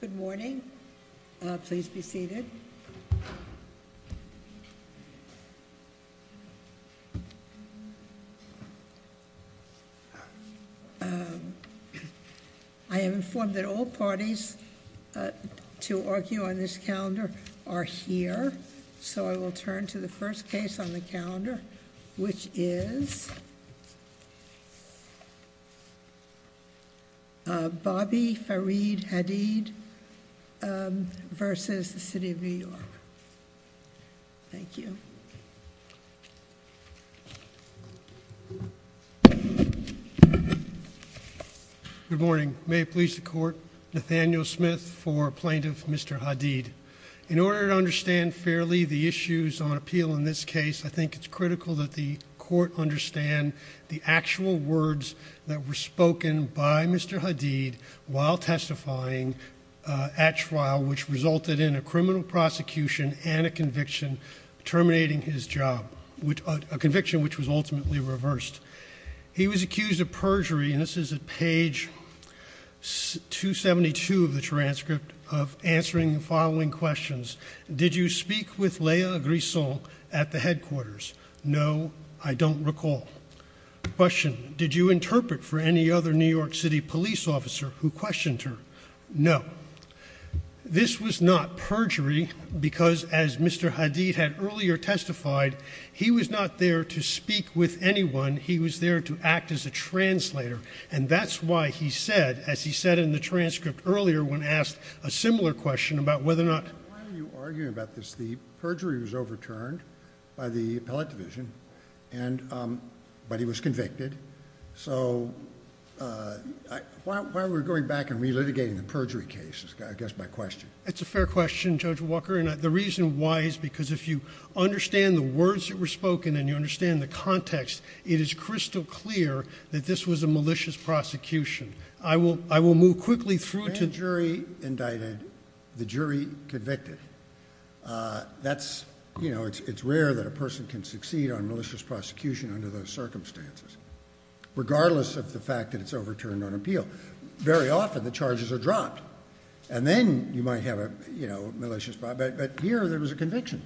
Good morning. Please be seated. I am informed that all parties to argue on this calendar are here, so I will turn to the first case on the calendar, which is Bobby Farid Hadid v. City of New York. Thank you. Good morning. May it please the Court, Nathaniel Smith for Plaintiff Mr. Hadid. In order to understand fairly the issues on appeal in this case, I think it's critical that the Court understand the actual words that were spoken by Mr. Hadid while testifying at trial, which resulted in a criminal prosecution and a conviction terminating his job, a conviction which was ultimately reversed. He was accused of perjury, and this is at page 272 of the transcript, of answering the following questions. Did you speak with Lea Grisson at the headquarters? No, I don't recall. Question. Did you interpret for any other New York City police officer who questioned her? No. This was not perjury because, as Mr. Hadid had earlier testified, he was not there to speak with anyone. He was there to act as a translator, and that's why he said, as he said in the transcript earlier when asked a similar question about whether or not Why are you arguing about this? The perjury was overturned by the appellate division, but he was convicted. So why are we going back and relitigating the perjury case, I guess, by question? It's a fair question, Judge Walker, and the reason why is because if you understand the words that were spoken and you understand the context, it is crystal clear that this was a malicious prosecution. I will move quickly through to— The jury indicted, the jury convicted. It's rare that a person can succeed on malicious prosecution under those circumstances, regardless of the fact that it's overturned on appeal. Very often the charges are dropped, and then you might have a malicious—but here there was a conviction.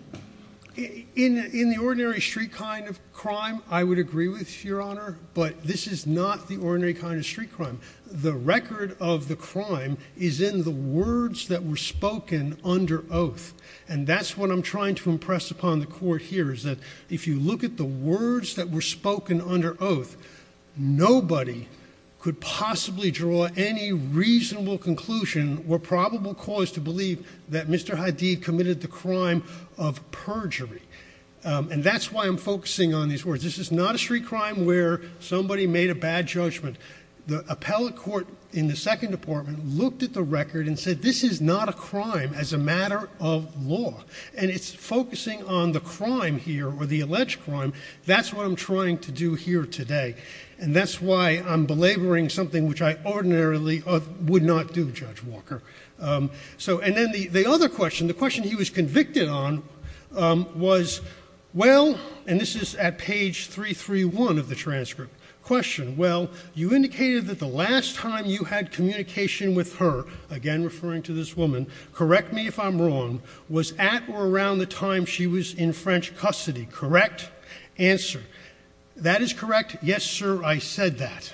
In the ordinary street kind of crime, I would agree with, Your Honor, but this is not the ordinary kind of street crime. The record of the crime is in the words that were spoken under oath, and that's what I'm trying to impress upon the court here, is that if you look at the words that were spoken under oath, nobody could possibly draw any reasonable conclusion or probable cause to believe that Mr. Hadid committed the crime of perjury, and that's why I'm focusing on these words. This is not a street crime where somebody made a bad judgment. The appellate court in the Second Department looked at the record and said, this is not a crime as a matter of law, and it's focusing on the crime here or the alleged crime. That's what I'm trying to do here today, and that's why I'm belaboring something which I ordinarily would not do, Judge Walker. And then the other question, the question he was convicted on, was, well—and this is at page 331 of the transcript— question, well, you indicated that the last time you had communication with her—again, referring to this woman, correct me if I'm wrong—was at or around the time she was in French custody, correct? Answer, that is correct, yes, sir, I said that.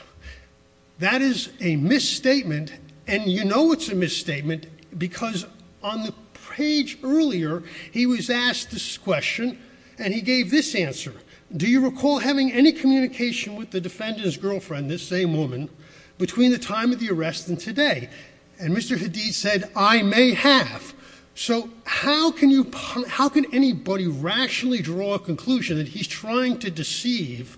That is a misstatement, and you know it's a misstatement because on the page earlier, he was asked this question, and he gave this answer. Do you recall having any communication with the defendant's girlfriend, this same woman, between the time of the arrest and today? And Mr. Hadid said, I may have. So how can anybody rationally draw a conclusion that he's trying to deceive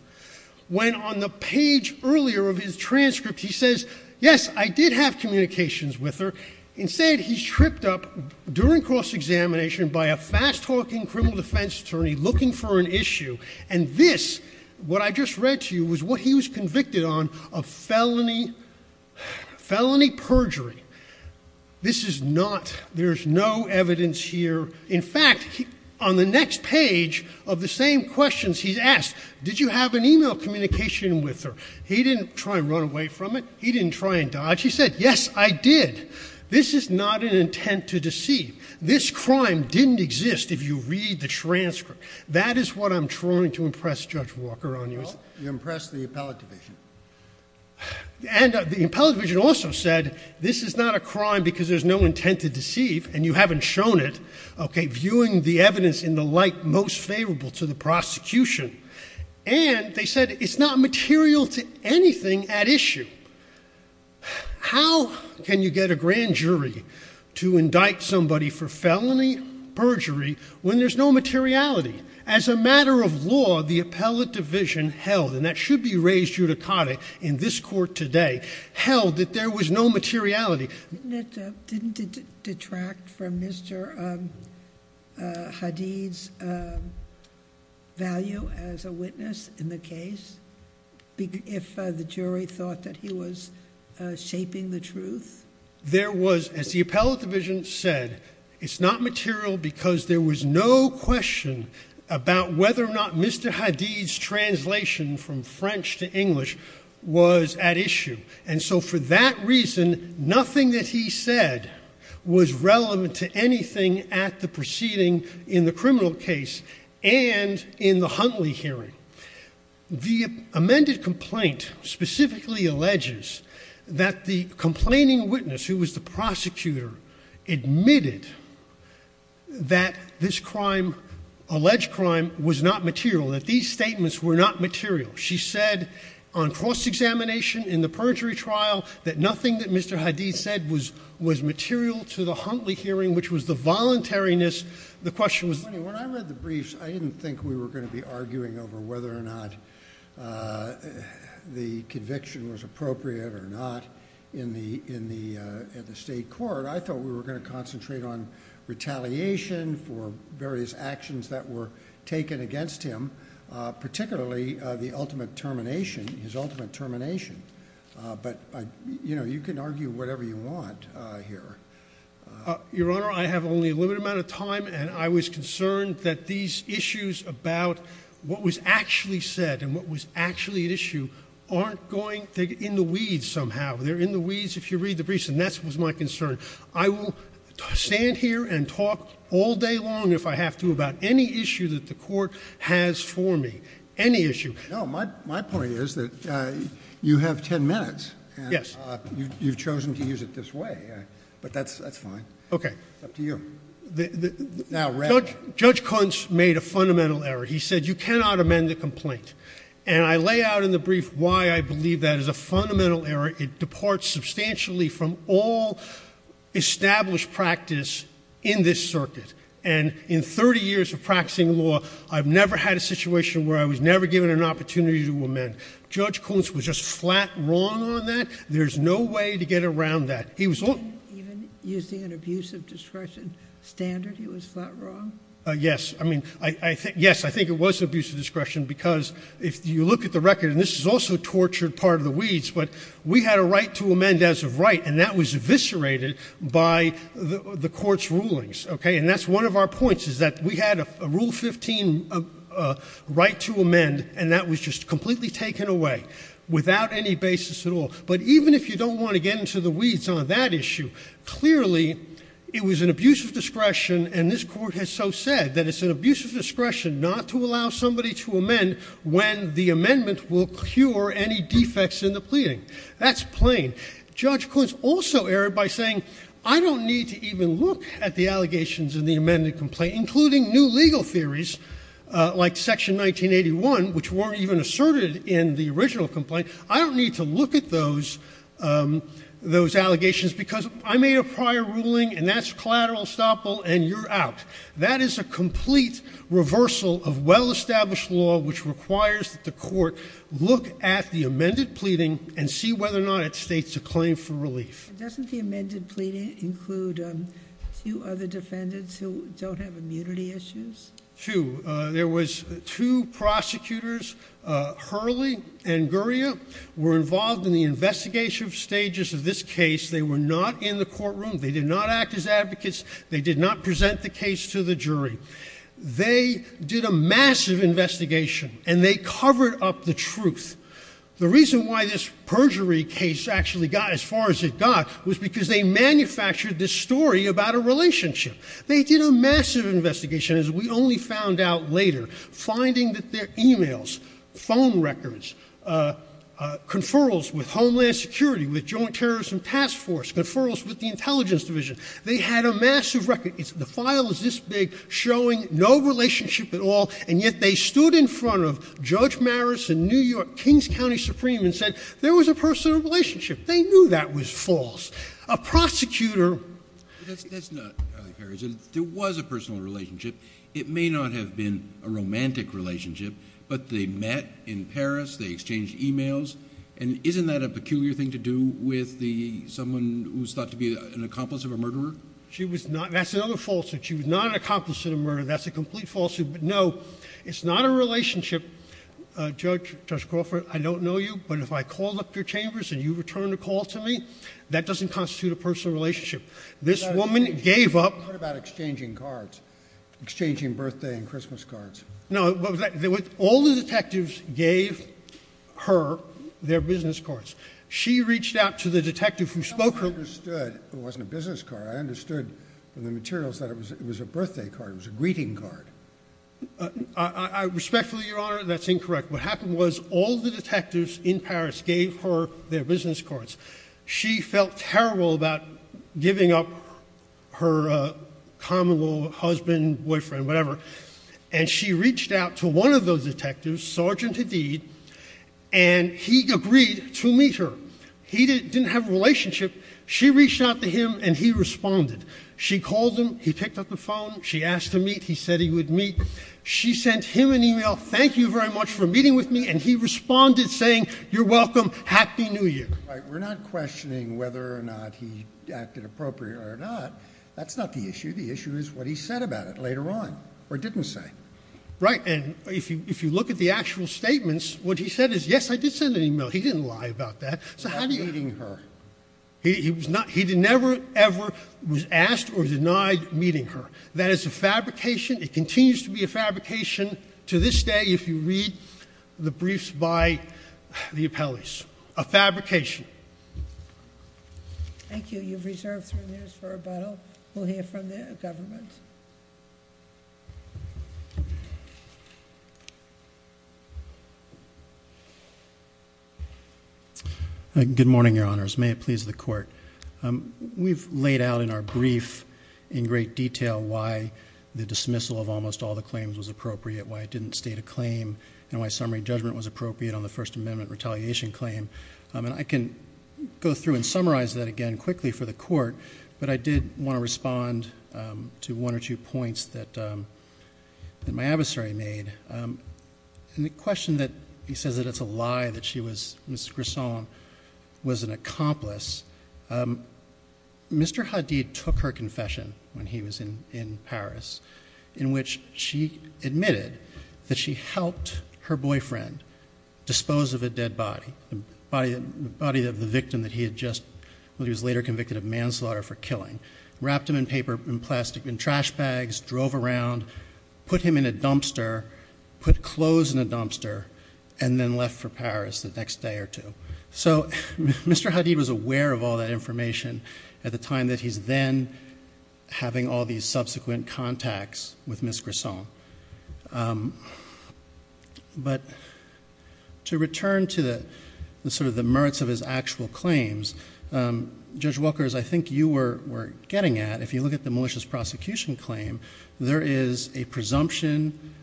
when on the page earlier of his transcript, he says, yes, I did have communications with her. Instead, he's tripped up during cross-examination by a fast-talking criminal defense attorney looking for an issue, and this, what I just read to you, was what he was convicted on of felony perjury. This is not—there's no evidence here. In fact, on the next page of the same questions, he's asked, did you have an email communication with her? He didn't try and run away from it. He didn't try and dodge. He said, yes, I did. This is not an intent to deceive. This crime didn't exist if you read the transcript. That is what I'm trying to impress Judge Walker on you. Well, you impressed the appellate division. And the appellate division also said, this is not a crime because there's no intent to deceive, and you haven't shown it, okay, viewing the evidence in the light most favorable to the prosecution. And they said it's not material to anything at issue. How can you get a grand jury to indict somebody for felony perjury when there's no materiality? As a matter of law, the appellate division held, and that should be raised judicata in this court today, held that there was no materiality. Didn't it detract from Mr. Hadid's value as a witness in the case if the jury thought that he was shaping the truth? There was, as the appellate division said, it's not material because there was no question about whether or not Mr. Hadid's translation from French to English was at issue. And so for that reason, nothing that he said was relevant to anything at the proceeding in the criminal case and in the Huntley hearing. The amended complaint specifically alleges that the complaining witness, who was the prosecutor, admitted that this crime, alleged crime, was not material, that these statements were not material. She said on cross-examination in the perjury trial that nothing that Mr. Hadid said was material to the Huntley hearing, which was the voluntariness. When I read the briefs, I didn't think we were going to be arguing over whether or not the conviction was appropriate or not in the state court. I thought we were going to concentrate on retaliation for various actions that were taken against him, particularly the ultimate termination, his ultimate termination. But, you know, you can argue whatever you want here. Your Honor, I have only a limited amount of time, and I was concerned that these issues about what was actually said and what was actually at issue aren't going to get in the weeds somehow. They're in the weeds if you read the briefs, and that was my concern. I will stand here and talk all day long, if I have to, about any issue that the Court has for me, any issue. No, my point is that you have 10 minutes. Yes. You've chosen to use it this way, but that's fine. Okay. It's up to you. Now, Judge Kunst made a fundamental error. He said you cannot amend the complaint. And I lay out in the brief why I believe that is a fundamental error. It departs substantially from all established practice in this circuit. And in 30 years of practicing law, I've never had a situation where I was never given an opportunity to amend. Judge Kunst was just flat wrong on that. There's no way to get around that. He was only— Even using an abuse of discretion standard, he was flat wrong? Yes. I mean, yes, I think it was abuse of discretion, because if you look at the record, and this is also a tortured part of the weeds, but we had a right to amend as of right, and that was eviscerated by the Court's rulings, okay? And that's one of our points, is that we had a Rule 15 right to amend, and that was just completely taken away without any basis at all. But even if you don't want to get into the weeds on that issue, clearly it was an abuse of discretion, and this Court has so said that it's an abuse of discretion not to allow somebody to amend when the amendment will cure any defects in the pleading. That's plain. Judge Kunst also erred by saying, I don't need to even look at the allegations in the amended complaint, including new legal theories, like Section 1981, which weren't even asserted in the original complaint. I don't need to look at those allegations because I made a prior ruling, and that's collateral estoppel, and you're out. That is a complete reversal of well-established law, which requires that the Court look at the amended pleading and see whether or not it states a claim for relief. Doesn't the amended pleading include two other defendants who don't have immunity issues? Two. There was two prosecutors, Hurley and Gurria, were involved in the investigative stages of this case. They were not in the courtroom. They did not act as advocates. They did not present the case to the jury. They did a massive investigation, and they covered up the truth. The reason why this perjury case actually got as far as it got was because they manufactured this story about a relationship. They did a massive investigation, as we only found out later, finding that their e-mails, phone records, conferrals with Homeland Security, with Joint Terrorism Task Force, conferrals with the Intelligence Division, they had a massive record. The file is this big, showing no relationship at all, and yet they stood in front of Judge Maris in New York, King's County Supreme, and said there was a personal relationship. They knew that was false. A prosecutor— That's not—there was a personal relationship. It may not have been a romantic relationship, but they met in Paris, they exchanged e-mails, and isn't that a peculiar thing to do with someone who's thought to be an accomplice of a murderer? She was not—that's another falsehood. She was not an accomplice of a murderer. That's a complete falsehood. But no, it's not a relationship. Judge Crawford, I don't know you, but if I called up your chambers and you returned a call to me, that doesn't constitute a personal relationship. This woman gave up— What about exchanging cards, exchanging birthday and Christmas cards? No, what was that? All the detectives gave her their business cards. She reached out to the detective who spoke— I understood it wasn't a business card. I understood from the materials that it was a birthday card. It was a greeting card. I respectfully, Your Honor, that's incorrect. What happened was all the detectives in Paris gave her their business cards. She felt terrible about giving up her common-law husband, boyfriend, whatever, and she reached out to one of those detectives, Sergeant Hadid, and he agreed to meet her. He didn't have a relationship. She reached out to him, and he responded. She called him. He picked up the phone. She asked to meet. He said he would meet. She sent him an e-mail, thank you very much for meeting with me, and he responded saying, you're welcome, happy new year. We're not questioning whether or not he acted appropriately or not. That's not the issue. The issue is what he said about it later on or didn't say. Right, and if you look at the actual statements, what he said is, yes, I did send an e-mail. He didn't lie about that. So how do you— About meeting her. He never ever was asked or denied meeting her. That is a fabrication. It continues to be a fabrication to this day if you read the briefs by the appellees, a fabrication. Thank you. You've reserved three minutes for rebuttal. We'll hear from the government. Good morning, Your Honors. May it please the Court. We've laid out in our brief in great detail why the dismissal of almost all the claims was appropriate, why it didn't state a claim, and why summary judgment was appropriate on the First Amendment retaliation claim. And I can go through and summarize that again quickly for the Court, but I did want to respond to one or two points that my adversary made. In the question that he says that it's a lie that she was, Ms. Grisson, was an accomplice, Mr. Hadid took her confession when he was in Paris in which she admitted that she helped her boyfriend dispose of a dead body. The body of the victim that he had just, when he was later convicted of manslaughter for killing. Wrapped him in paper and plastic, in trash bags, drove around, put him in a dumpster, put clothes in a dumpster, and then left for Paris the next day or two. So Mr. Hadid was aware of all that information at the time that he's then having all these subsequent contacts with Ms. Grisson. But to return to the merits of his actual claims, Judge Walker, as I think you were getting at, if you look at the malicious prosecution claim, there is a presumption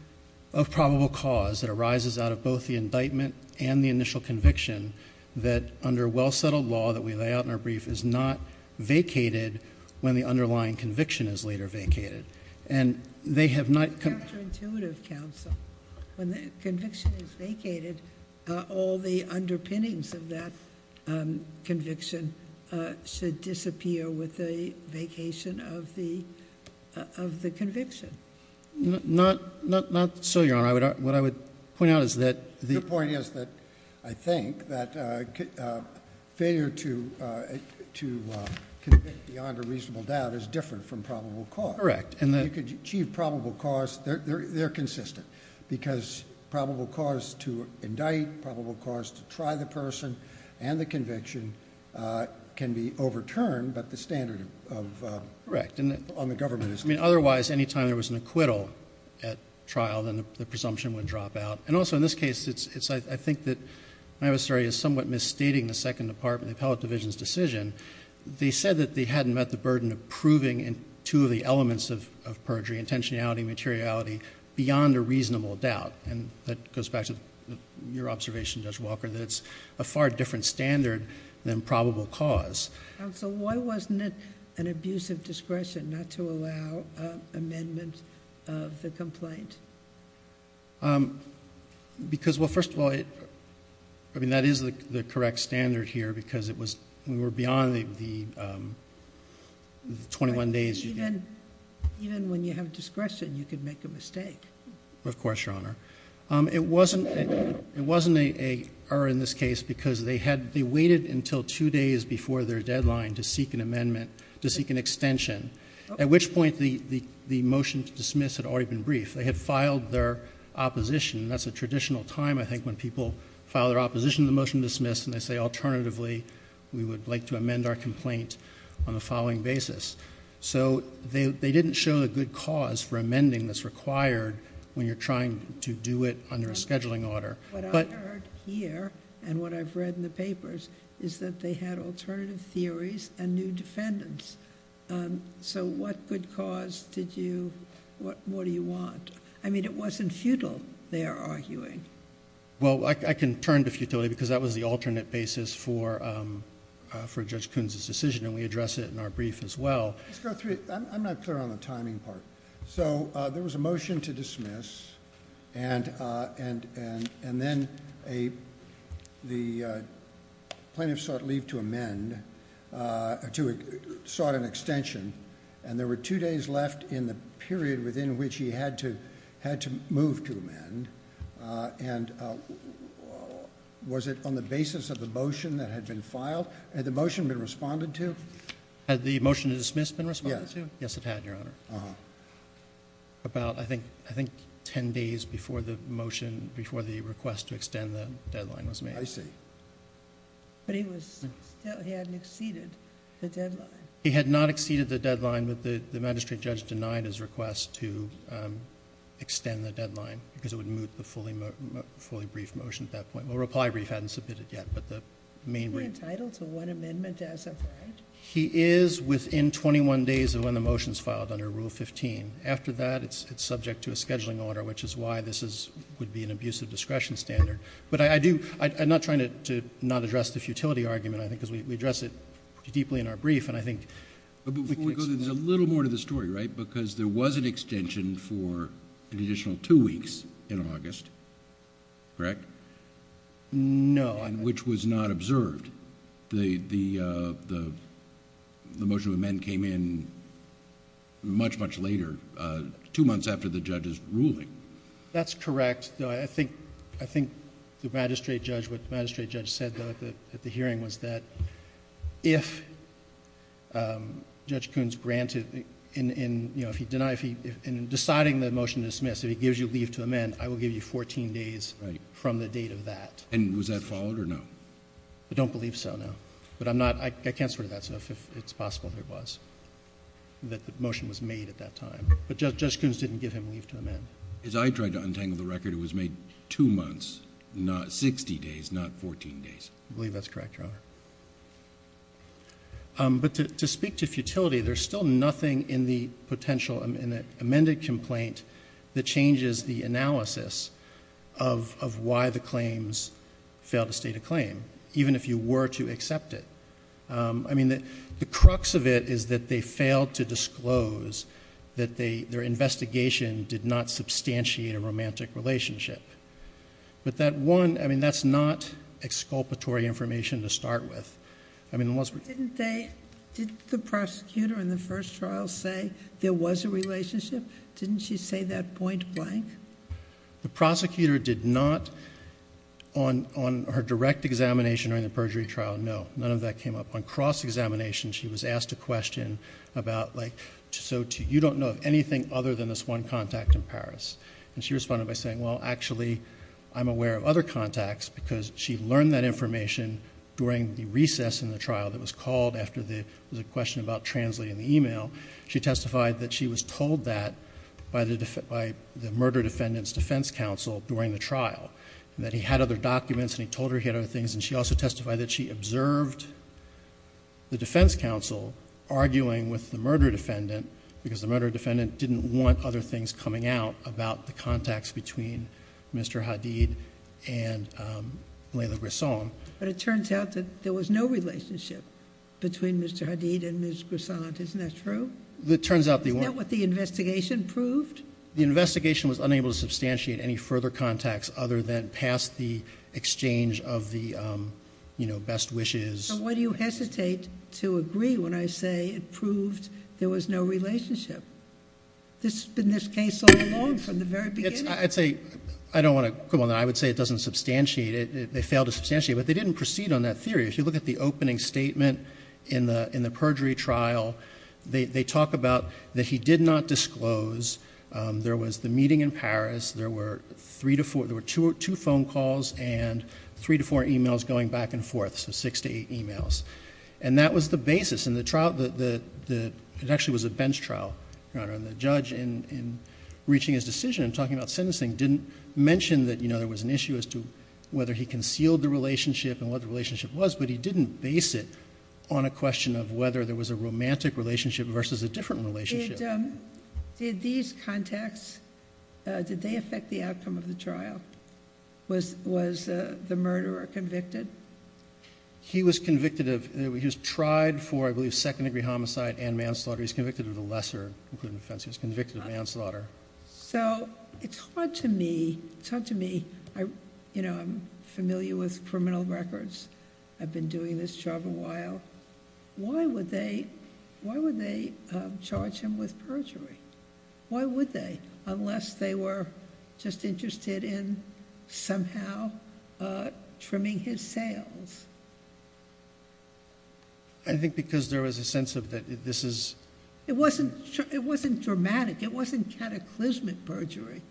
of probable cause that arises out of both the indictment and the initial conviction that under well-settled law that we lay out in our brief is not vacated when the underlying conviction is later vacated. And they have not- That's counterintuitive, counsel. When the conviction is vacated, all the underpinnings of that conviction should disappear with the vacation of the conviction. Not so, Your Honor. What I would point out is that- The point is that I think that failure to convict beyond a reasonable doubt is different from probable cause. Correct. You could achieve probable cause. They're consistent because probable cause to indict, probable cause to try the person and the conviction can be overturned, but the standard on the government is different. Correct. Otherwise, any time there was an acquittal at trial, then the presumption would drop out. And also in this case, I think that, I'm sorry, is somewhat misstating the Second Department, the Appellate Division's decision. They said that they hadn't met the burden of proving two of the elements of perjury, intentionality and materiality, beyond a reasonable doubt. And that goes back to your observation, Judge Walker, that it's a far different standard than probable cause. Counsel, why wasn't it an abuse of discretion not to allow amendment of the complaint? Because, well, first of all, I mean, that is the correct standard here because we were beyond the 21 days. Even when you have discretion, you can make a mistake. Of course, Your Honor. It wasn't an error in this case because they waited until two days before their deadline to seek an amendment, to seek an extension, at which point the motion to dismiss had already been briefed. They had filed their opposition. That's a traditional time, I think, when people file their opposition to the motion to dismiss, and they say, alternatively, we would like to amend our complaint on the following basis. So they didn't show a good cause for amending that's required when you're trying to do it under a scheduling order. What I've heard here and what I've read in the papers is that they had alternative theories and new defendants. So what good cause did you, what more do you want? I mean, it wasn't futile, they're arguing. Well, I can turn to futility because that was the alternate basis for Judge Coons' decision, and we address it in our brief as well. Let's go through it. I'm not clear on the timing part. So there was a motion to dismiss, and then the plaintiff sought leave to amend, sought an extension, and there were two days left in the period within which he had to move to amend. And was it on the basis of the motion that had been filed? Had the motion been responded to? Had the motion to dismiss been responded to? Yes, it had, Your Honor. About, I think, ten days before the motion, before the request to extend the deadline was made. I see. But he was, he hadn't exceeded the deadline. He had not exceeded the deadline, but the magistrate judge denied his request to extend the deadline because it would moot the fully brief motion at that point. Well, reply brief hadn't submitted yet, but the main brief... Is he entitled to one amendment as applied? He is within 21 days of when the motion is filed under Rule 15. After that, it's subject to a scheduling order, which is why this would be an abusive discretion standard. But I do, I'm not trying to not address the futility argument, I think, because we address it deeply in our brief, and I think... But before we go there, there's a little more to the story, right? Because there was an extension for an additional two weeks in August, correct? No. Which was not observed. The motion to amend came in much, much later, two months after the judge's ruling. That's correct. I think the magistrate judge, what the magistrate judge said at the hearing was that if Judge Koons granted, in deciding the motion to dismiss, if he gives you leave to amend, I will give you fourteen days from the date of that. And was that followed or no? I don't believe so, no. But I'm not, I can't swear to that stuff if it's possible that it was, that the motion was made at that time. But Judge Koons didn't give him leave to amend. As I tried to untangle the record, it was made two months, not sixty days, not fourteen days. I believe that's correct, Your Honor. But to speak to futility, there's still nothing in the potential, in the amended complaint, that changes the analysis of why the claims failed to state a claim, even if you were to accept it. I mean, the crux of it is that they failed to disclose that their investigation did not substantiate a romantic relationship. But that one, I mean, that's not exculpatory information to start with. Didn't they, didn't the prosecutor in the first trial say there was a relationship? Didn't she say that point blank? The prosecutor did not, on her direct examination during the perjury trial, no. None of that came up. On cross-examination, she was asked a question about, like, so you don't know anything other than this one contact in Paris. And she responded by saying, well, actually, I'm aware of other contacts, because she learned that information during the recess in the trial that was called after the question about translating the email. She testified that she was told that by the murder defendant's defense counsel during the trial, and that he had other documents and he told her he had other things. And she also testified that she observed the defense counsel arguing with the murder defendant, because the murder defendant didn't want other things coming out about the contacts between Mr. Hadid and Layla Grisson. But it turns out that there was no relationship between Mr. Hadid and Ms. Grisson. Isn't that true? It turns out they weren't. Isn't that what the investigation proved? The investigation was unable to substantiate any further contacts other than past the exchange of the best wishes. So why do you hesitate to agree when I say it proved there was no relationship? This has been this case all along from the very beginning. I would say it doesn't substantiate it. They failed to substantiate it, but they didn't proceed on that theory. If you look at the opening statement in the perjury trial, they talk about that he did not disclose. There was the meeting in Paris. There were two phone calls and three to four emails going back and forth. So six to eight emails. And that was the basis. And the trial, it actually was a bench trial, Your Honor. And the judge in reaching his decision and talking about sentencing didn't mention that, you know, there was an issue as to whether he concealed the relationship and what the relationship was. But he didn't base it on a question of whether there was a romantic relationship versus a different relationship. Did these contacts, did they affect the outcome of the trial? Was the murderer convicted? He was convicted of, he was tried for, I believe, second degree homicide and manslaughter. He was convicted of the lesser, including offense. He was convicted of manslaughter. So it's hard to me, it's hard to me, you know, I'm familiar with criminal records. I've been doing this job a while. Why would they, why would they charge him with perjury? Why would they, unless they were just interested in somehow trimming his sails? I think because there was a sense of that this is. It wasn't dramatic. It wasn't cataclysmic perjury,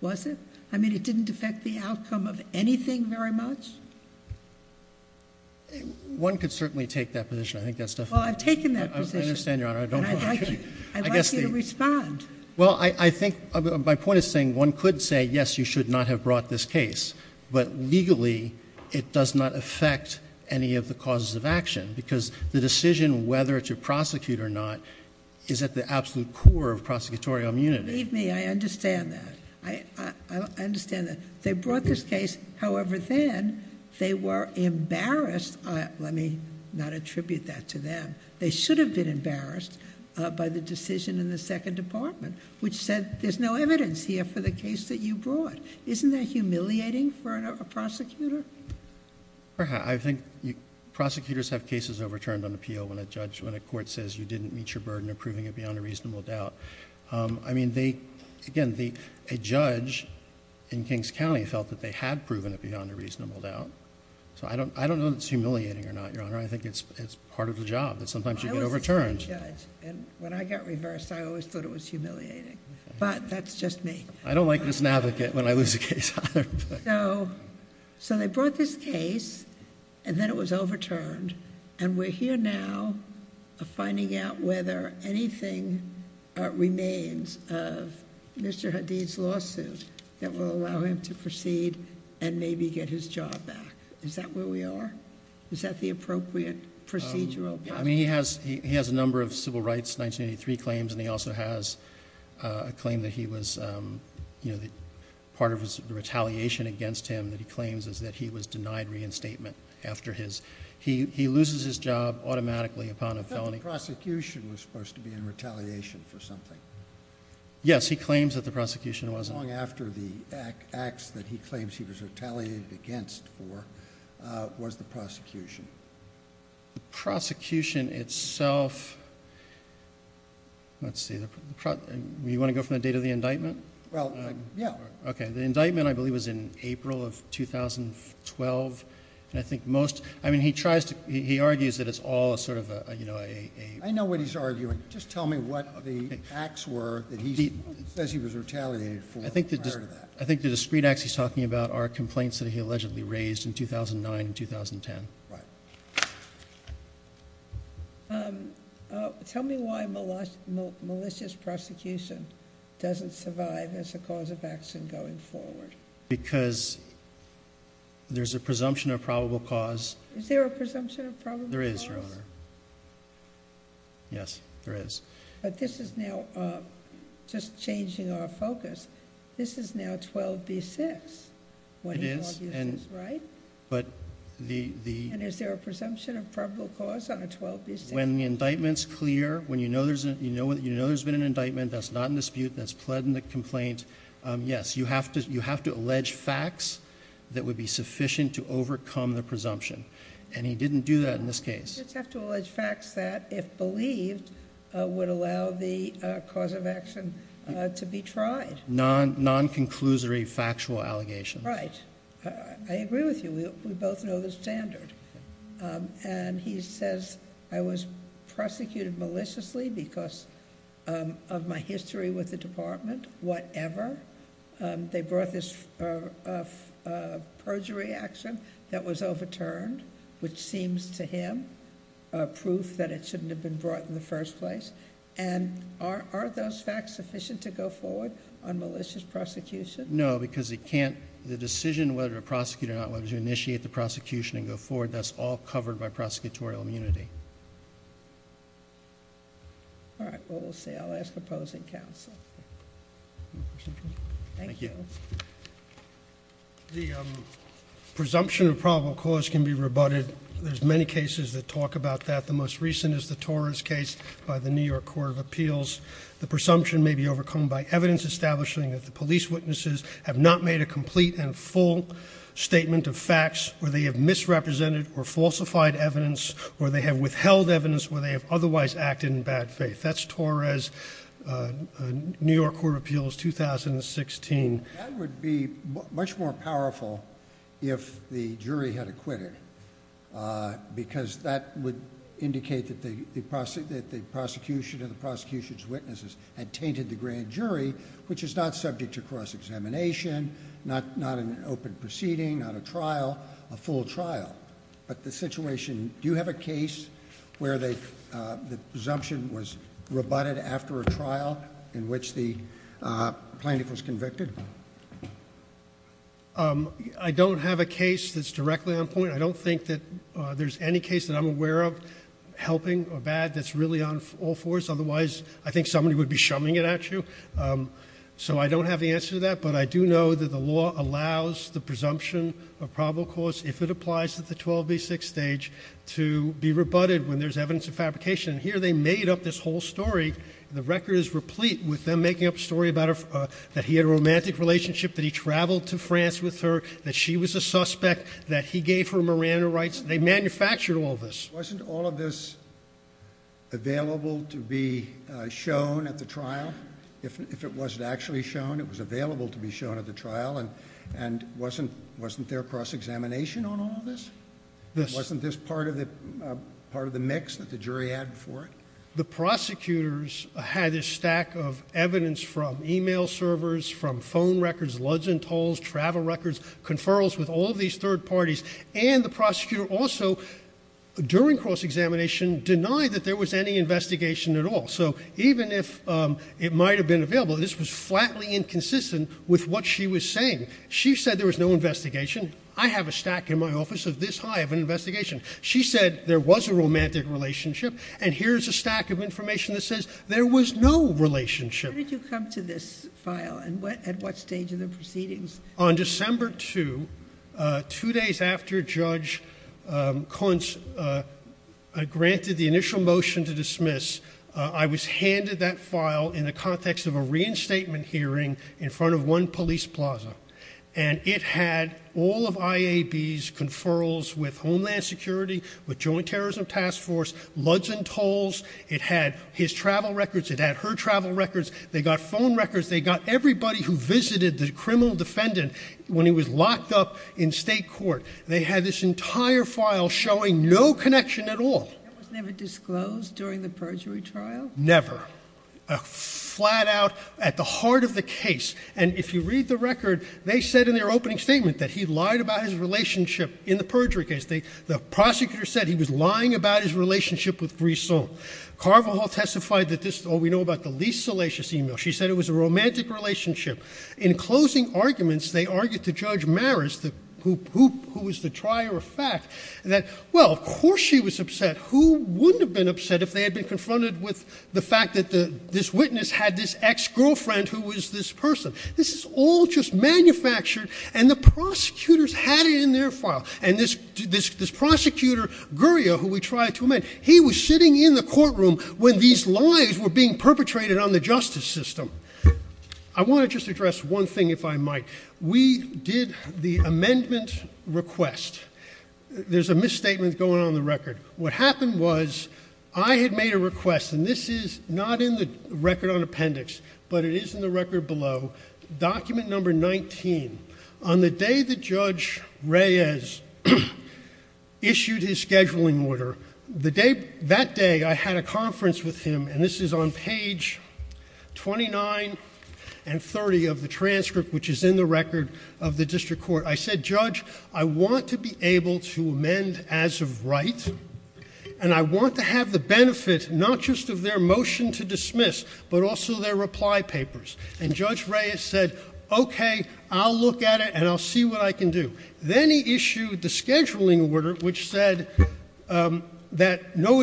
was it? I mean, it didn't affect the outcome of anything very much? One could certainly take that position. I think that's definitely. Well, I've taken that position. I understand, Your Honor. And I'd like you to respond. Well, I think, my point is saying one could say, yes, you should not have brought this case. But legally, it does not affect any of the causes of action. Because the decision whether to prosecute or not is at the absolute core of prosecutorial immunity. Believe me, I understand that. I understand that. They brought this case. However, then, they were embarrassed. Let me not attribute that to them. They should have been embarrassed by the decision in the second department, which said there's no evidence here for the case that you brought. Isn't that humiliating for a prosecutor? I think prosecutors have cases overturned on appeal when a court says you didn't meet your burden of proving it beyond a reasonable doubt. I mean, again, a judge in Kings County felt that they had proven it beyond a reasonable doubt. So I don't know if it's humiliating or not, Your Honor. I think it's part of the job that sometimes you get overturned. When I get reversed, I always thought it was humiliating. But that's just me. I don't like this navigate when I lose a case. So they brought this case, and then it was overturned. And we're here now finding out whether anything remains of Mr. Hadid's lawsuit that will allow him to proceed and maybe get his job back. Is that where we are? Is that the appropriate procedural process? I mean, he has a number of civil rights 1983 claims, and he also has a claim that part of his retaliation against him that he claims is that he was denied reinstatement. He loses his job automatically upon a felony. But the prosecution was supposed to be in retaliation for something. Yes, he claims that the prosecution was. How long after the acts that he claims he was retaliated against for was the prosecution? The prosecution itself, let's see. You want to go from the date of the indictment? Well, yeah. Okay. The indictment, I believe, was in April of 2012. And I think most, I mean, he argues that it's all sort of a... I know what he's arguing. Just tell me what the acts were that he says he was retaliated for prior to that. I think the discrete acts he's talking about are complaints that he allegedly raised in 2009 and 2010. Right. Tell me why malicious prosecution doesn't survive as a cause of action going forward. Because there's a presumption of probable cause. Is there a presumption of probable cause? There is, Your Honor. Yes, there is. But this is now, just changing our focus, this is now 12b-6. It is. Right? But the... And is there a presumption of probable cause on a 12b-6? When the indictment's clear, when you know there's been an indictment that's not in dispute, that's pled in the complaint, yes, you have to allege facts that would be sufficient to overcome the presumption. And he didn't do that in this case. You just have to allege facts that, if believed, would allow the cause of action to be tried. Non-conclusory factual allegations. Right. I agree with you. We both know the standard. And he says I was prosecuted maliciously because of my history with the department, whatever. They brought this perjury action that was overturned, which seems to him proof that it shouldn't have been brought in the first place. And aren't those facts sufficient to go forward on malicious prosecution? No, because it can't. The decision whether to prosecute or not, whether to initiate the prosecution and go forward, that's all covered by prosecutorial immunity. All right. Well, we'll see. I'll ask opposing counsel. Thank you. The presumption of probable cause can be rebutted. There's many cases that talk about that. The most recent is the Torres case by the New York Court of Appeals. The presumption may be overcome by evidence establishing that the police witnesses have not made a complete and full statement of facts, or they have misrepresented or falsified evidence, or they have withheld evidence, or they have otherwise acted in bad faith. That's Torres, New York Court of Appeals, 2016. That would be much more powerful if the jury had acquitted, because that would indicate that the prosecution and the prosecution's witnesses had tainted the grand jury, which is not subject to cross-examination, not an open proceeding, not a trial, a full trial. But the situation, do you have a case where the presumption was rebutted after a trial in which the plaintiff was convicted? I don't have a case that's directly on point. I don't think that there's any case that I'm aware of, helping or bad, that's really on all fours. Otherwise, I think somebody would be shumming it at you. But I do know that the law allows the presumption of probable cause, if it applies to the 12B6 stage, to be rebutted when there's evidence of fabrication. Here, they made up this whole story. The record is replete with them making up a story that he had a romantic relationship, that he traveled to France with her, that she was a suspect, that he gave her Miranda rights. They manufactured all this. Wasn't all of this available to be shown at the trial? If it wasn't actually shown, it was available to be shown at the trial. And wasn't there cross-examination on all of this? Wasn't this part of the mix that the jury had before it? The prosecutors had this stack of evidence from e-mail servers, from phone records, loads and tolls, travel records, conferrals with all of these third parties. And the prosecutor also, during cross-examination, denied that there was any investigation at all. So even if it might have been available, this was flatly inconsistent with what she was saying. She said there was no investigation. I have a stack in my office of this high of an investigation. She said there was a romantic relationship, and here's a stack of information that says there was no relationship. When did you come to this file, and at what stage of the proceedings? On December 2, two days after Judge Kunst granted the initial motion to dismiss, I was handed that file in the context of a reinstatement hearing in front of one police plaza. And it had all of IAB's conferrals with Homeland Security, with Joint Terrorism Task Force, loads and tolls. It had his travel records. It had her travel records. They got phone records. They got everybody who visited the criminal defendant when he was locked up in state court. They had this entire file showing no connection at all. That was never disclosed during the perjury trial? Never. Flat out at the heart of the case. And if you read the record, they said in their opening statement that he lied about his relationship in the perjury case. The prosecutor said he was lying about his relationship with Brisson. Carvajal testified that this is all we know about the least salacious email. She said it was a romantic relationship. In closing arguments, they argued to Judge Maris, who was the trier of fact, that, well, of course she was upset. Who wouldn't have been upset if they had been confronted with the fact that this witness had this ex-girlfriend who was this person? This is all just manufactured, and the prosecutors had it in their file. And this prosecutor, Gurria, who we tried to amend, he was sitting in the courtroom when these lies were being perpetrated on the justice system. I want to just address one thing, if I might. We did the amendment request. There's a misstatement going on in the record. What happened was I had made a request, and this is not in the record on appendix, but it is in the record below. Document number 19. On the day that Judge Reyes issued his scheduling order, that day I had a conference with him, and this is on page 29 and 30 of the transcript, which is in the record of the district court. I said, Judge, I want to be able to amend as of right, and I want to have the benefit not just of their motion to dismiss, but also their reply papers. And Judge Reyes said, okay, I'll look at it, and I'll see what I can do. Then he issued the scheduling order, which said that no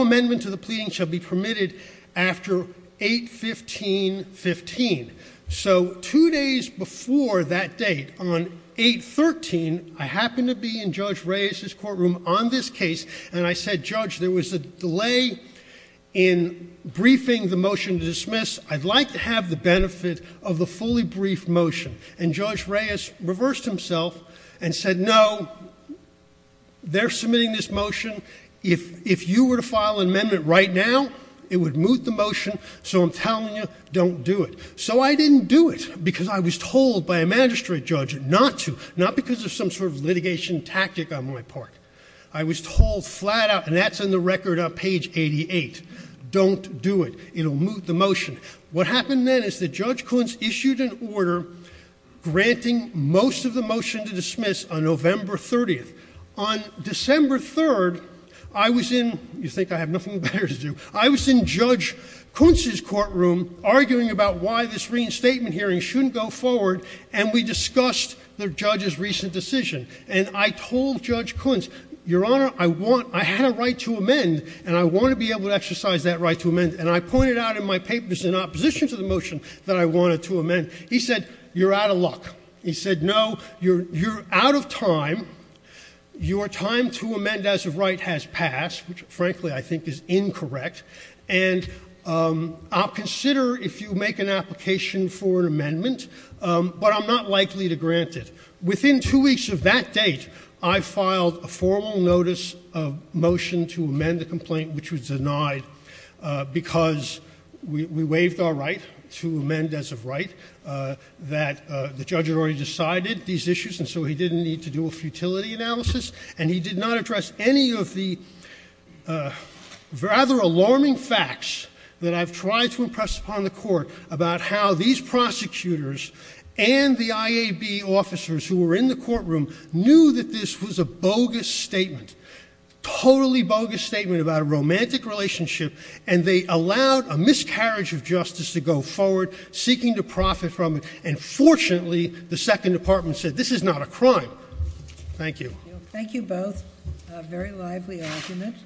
amendment to the pleading shall be permitted after 8-15-15. So two days before that date, on 8-13, I happened to be in Judge Reyes's courtroom on this case, and I said, Judge, there was a delay in briefing the motion to dismiss. I'd like to have the benefit of the fully briefed motion. And Judge Reyes reversed himself and said, no, they're submitting this motion. If you were to file an amendment right now, it would move the motion, so I'm telling you, don't do it. So I didn't do it, because I was told by a magistrate judge not to, not because of some sort of litigation tactic on my part. I was told flat out, and that's in the record on page 88, don't do it. It'll move the motion. What happened then is that Judge Kuntz issued an order granting most of the motion to dismiss on November 30th. On December 3rd, I was in, you think I have nothing better to do. I was in Judge Kuntz's courtroom arguing about why this reinstatement hearing shouldn't go forward, and we discussed the judge's recent decision. And I told Judge Kuntz, Your Honor, I had a right to amend, and I want to be able to exercise that right to amend. And I pointed out in my papers in opposition to the motion that I wanted to amend. He said, you're out of luck. He said, no, you're out of time. Your time to amend as of right has passed, which frankly I think is incorrect. And I'll consider if you make an application for an amendment, but I'm not likely to grant it. Within two weeks of that date, I filed a formal notice of motion to amend the complaint, which was denied because we waived our right to amend as of right, that the judge had already decided these issues, and so he didn't need to do a futility analysis. And he did not address any of the rather alarming facts that I've tried to impress upon the court about how these prosecutors and the IAB officers who were in the courtroom knew that this was a bogus statement, totally bogus statement about a romantic relationship, and they allowed a miscarriage of justice to go forward, seeking to profit from it. And fortunately, the Second Department said, this is not a crime. Thank you. Thank you both. A very lively argument.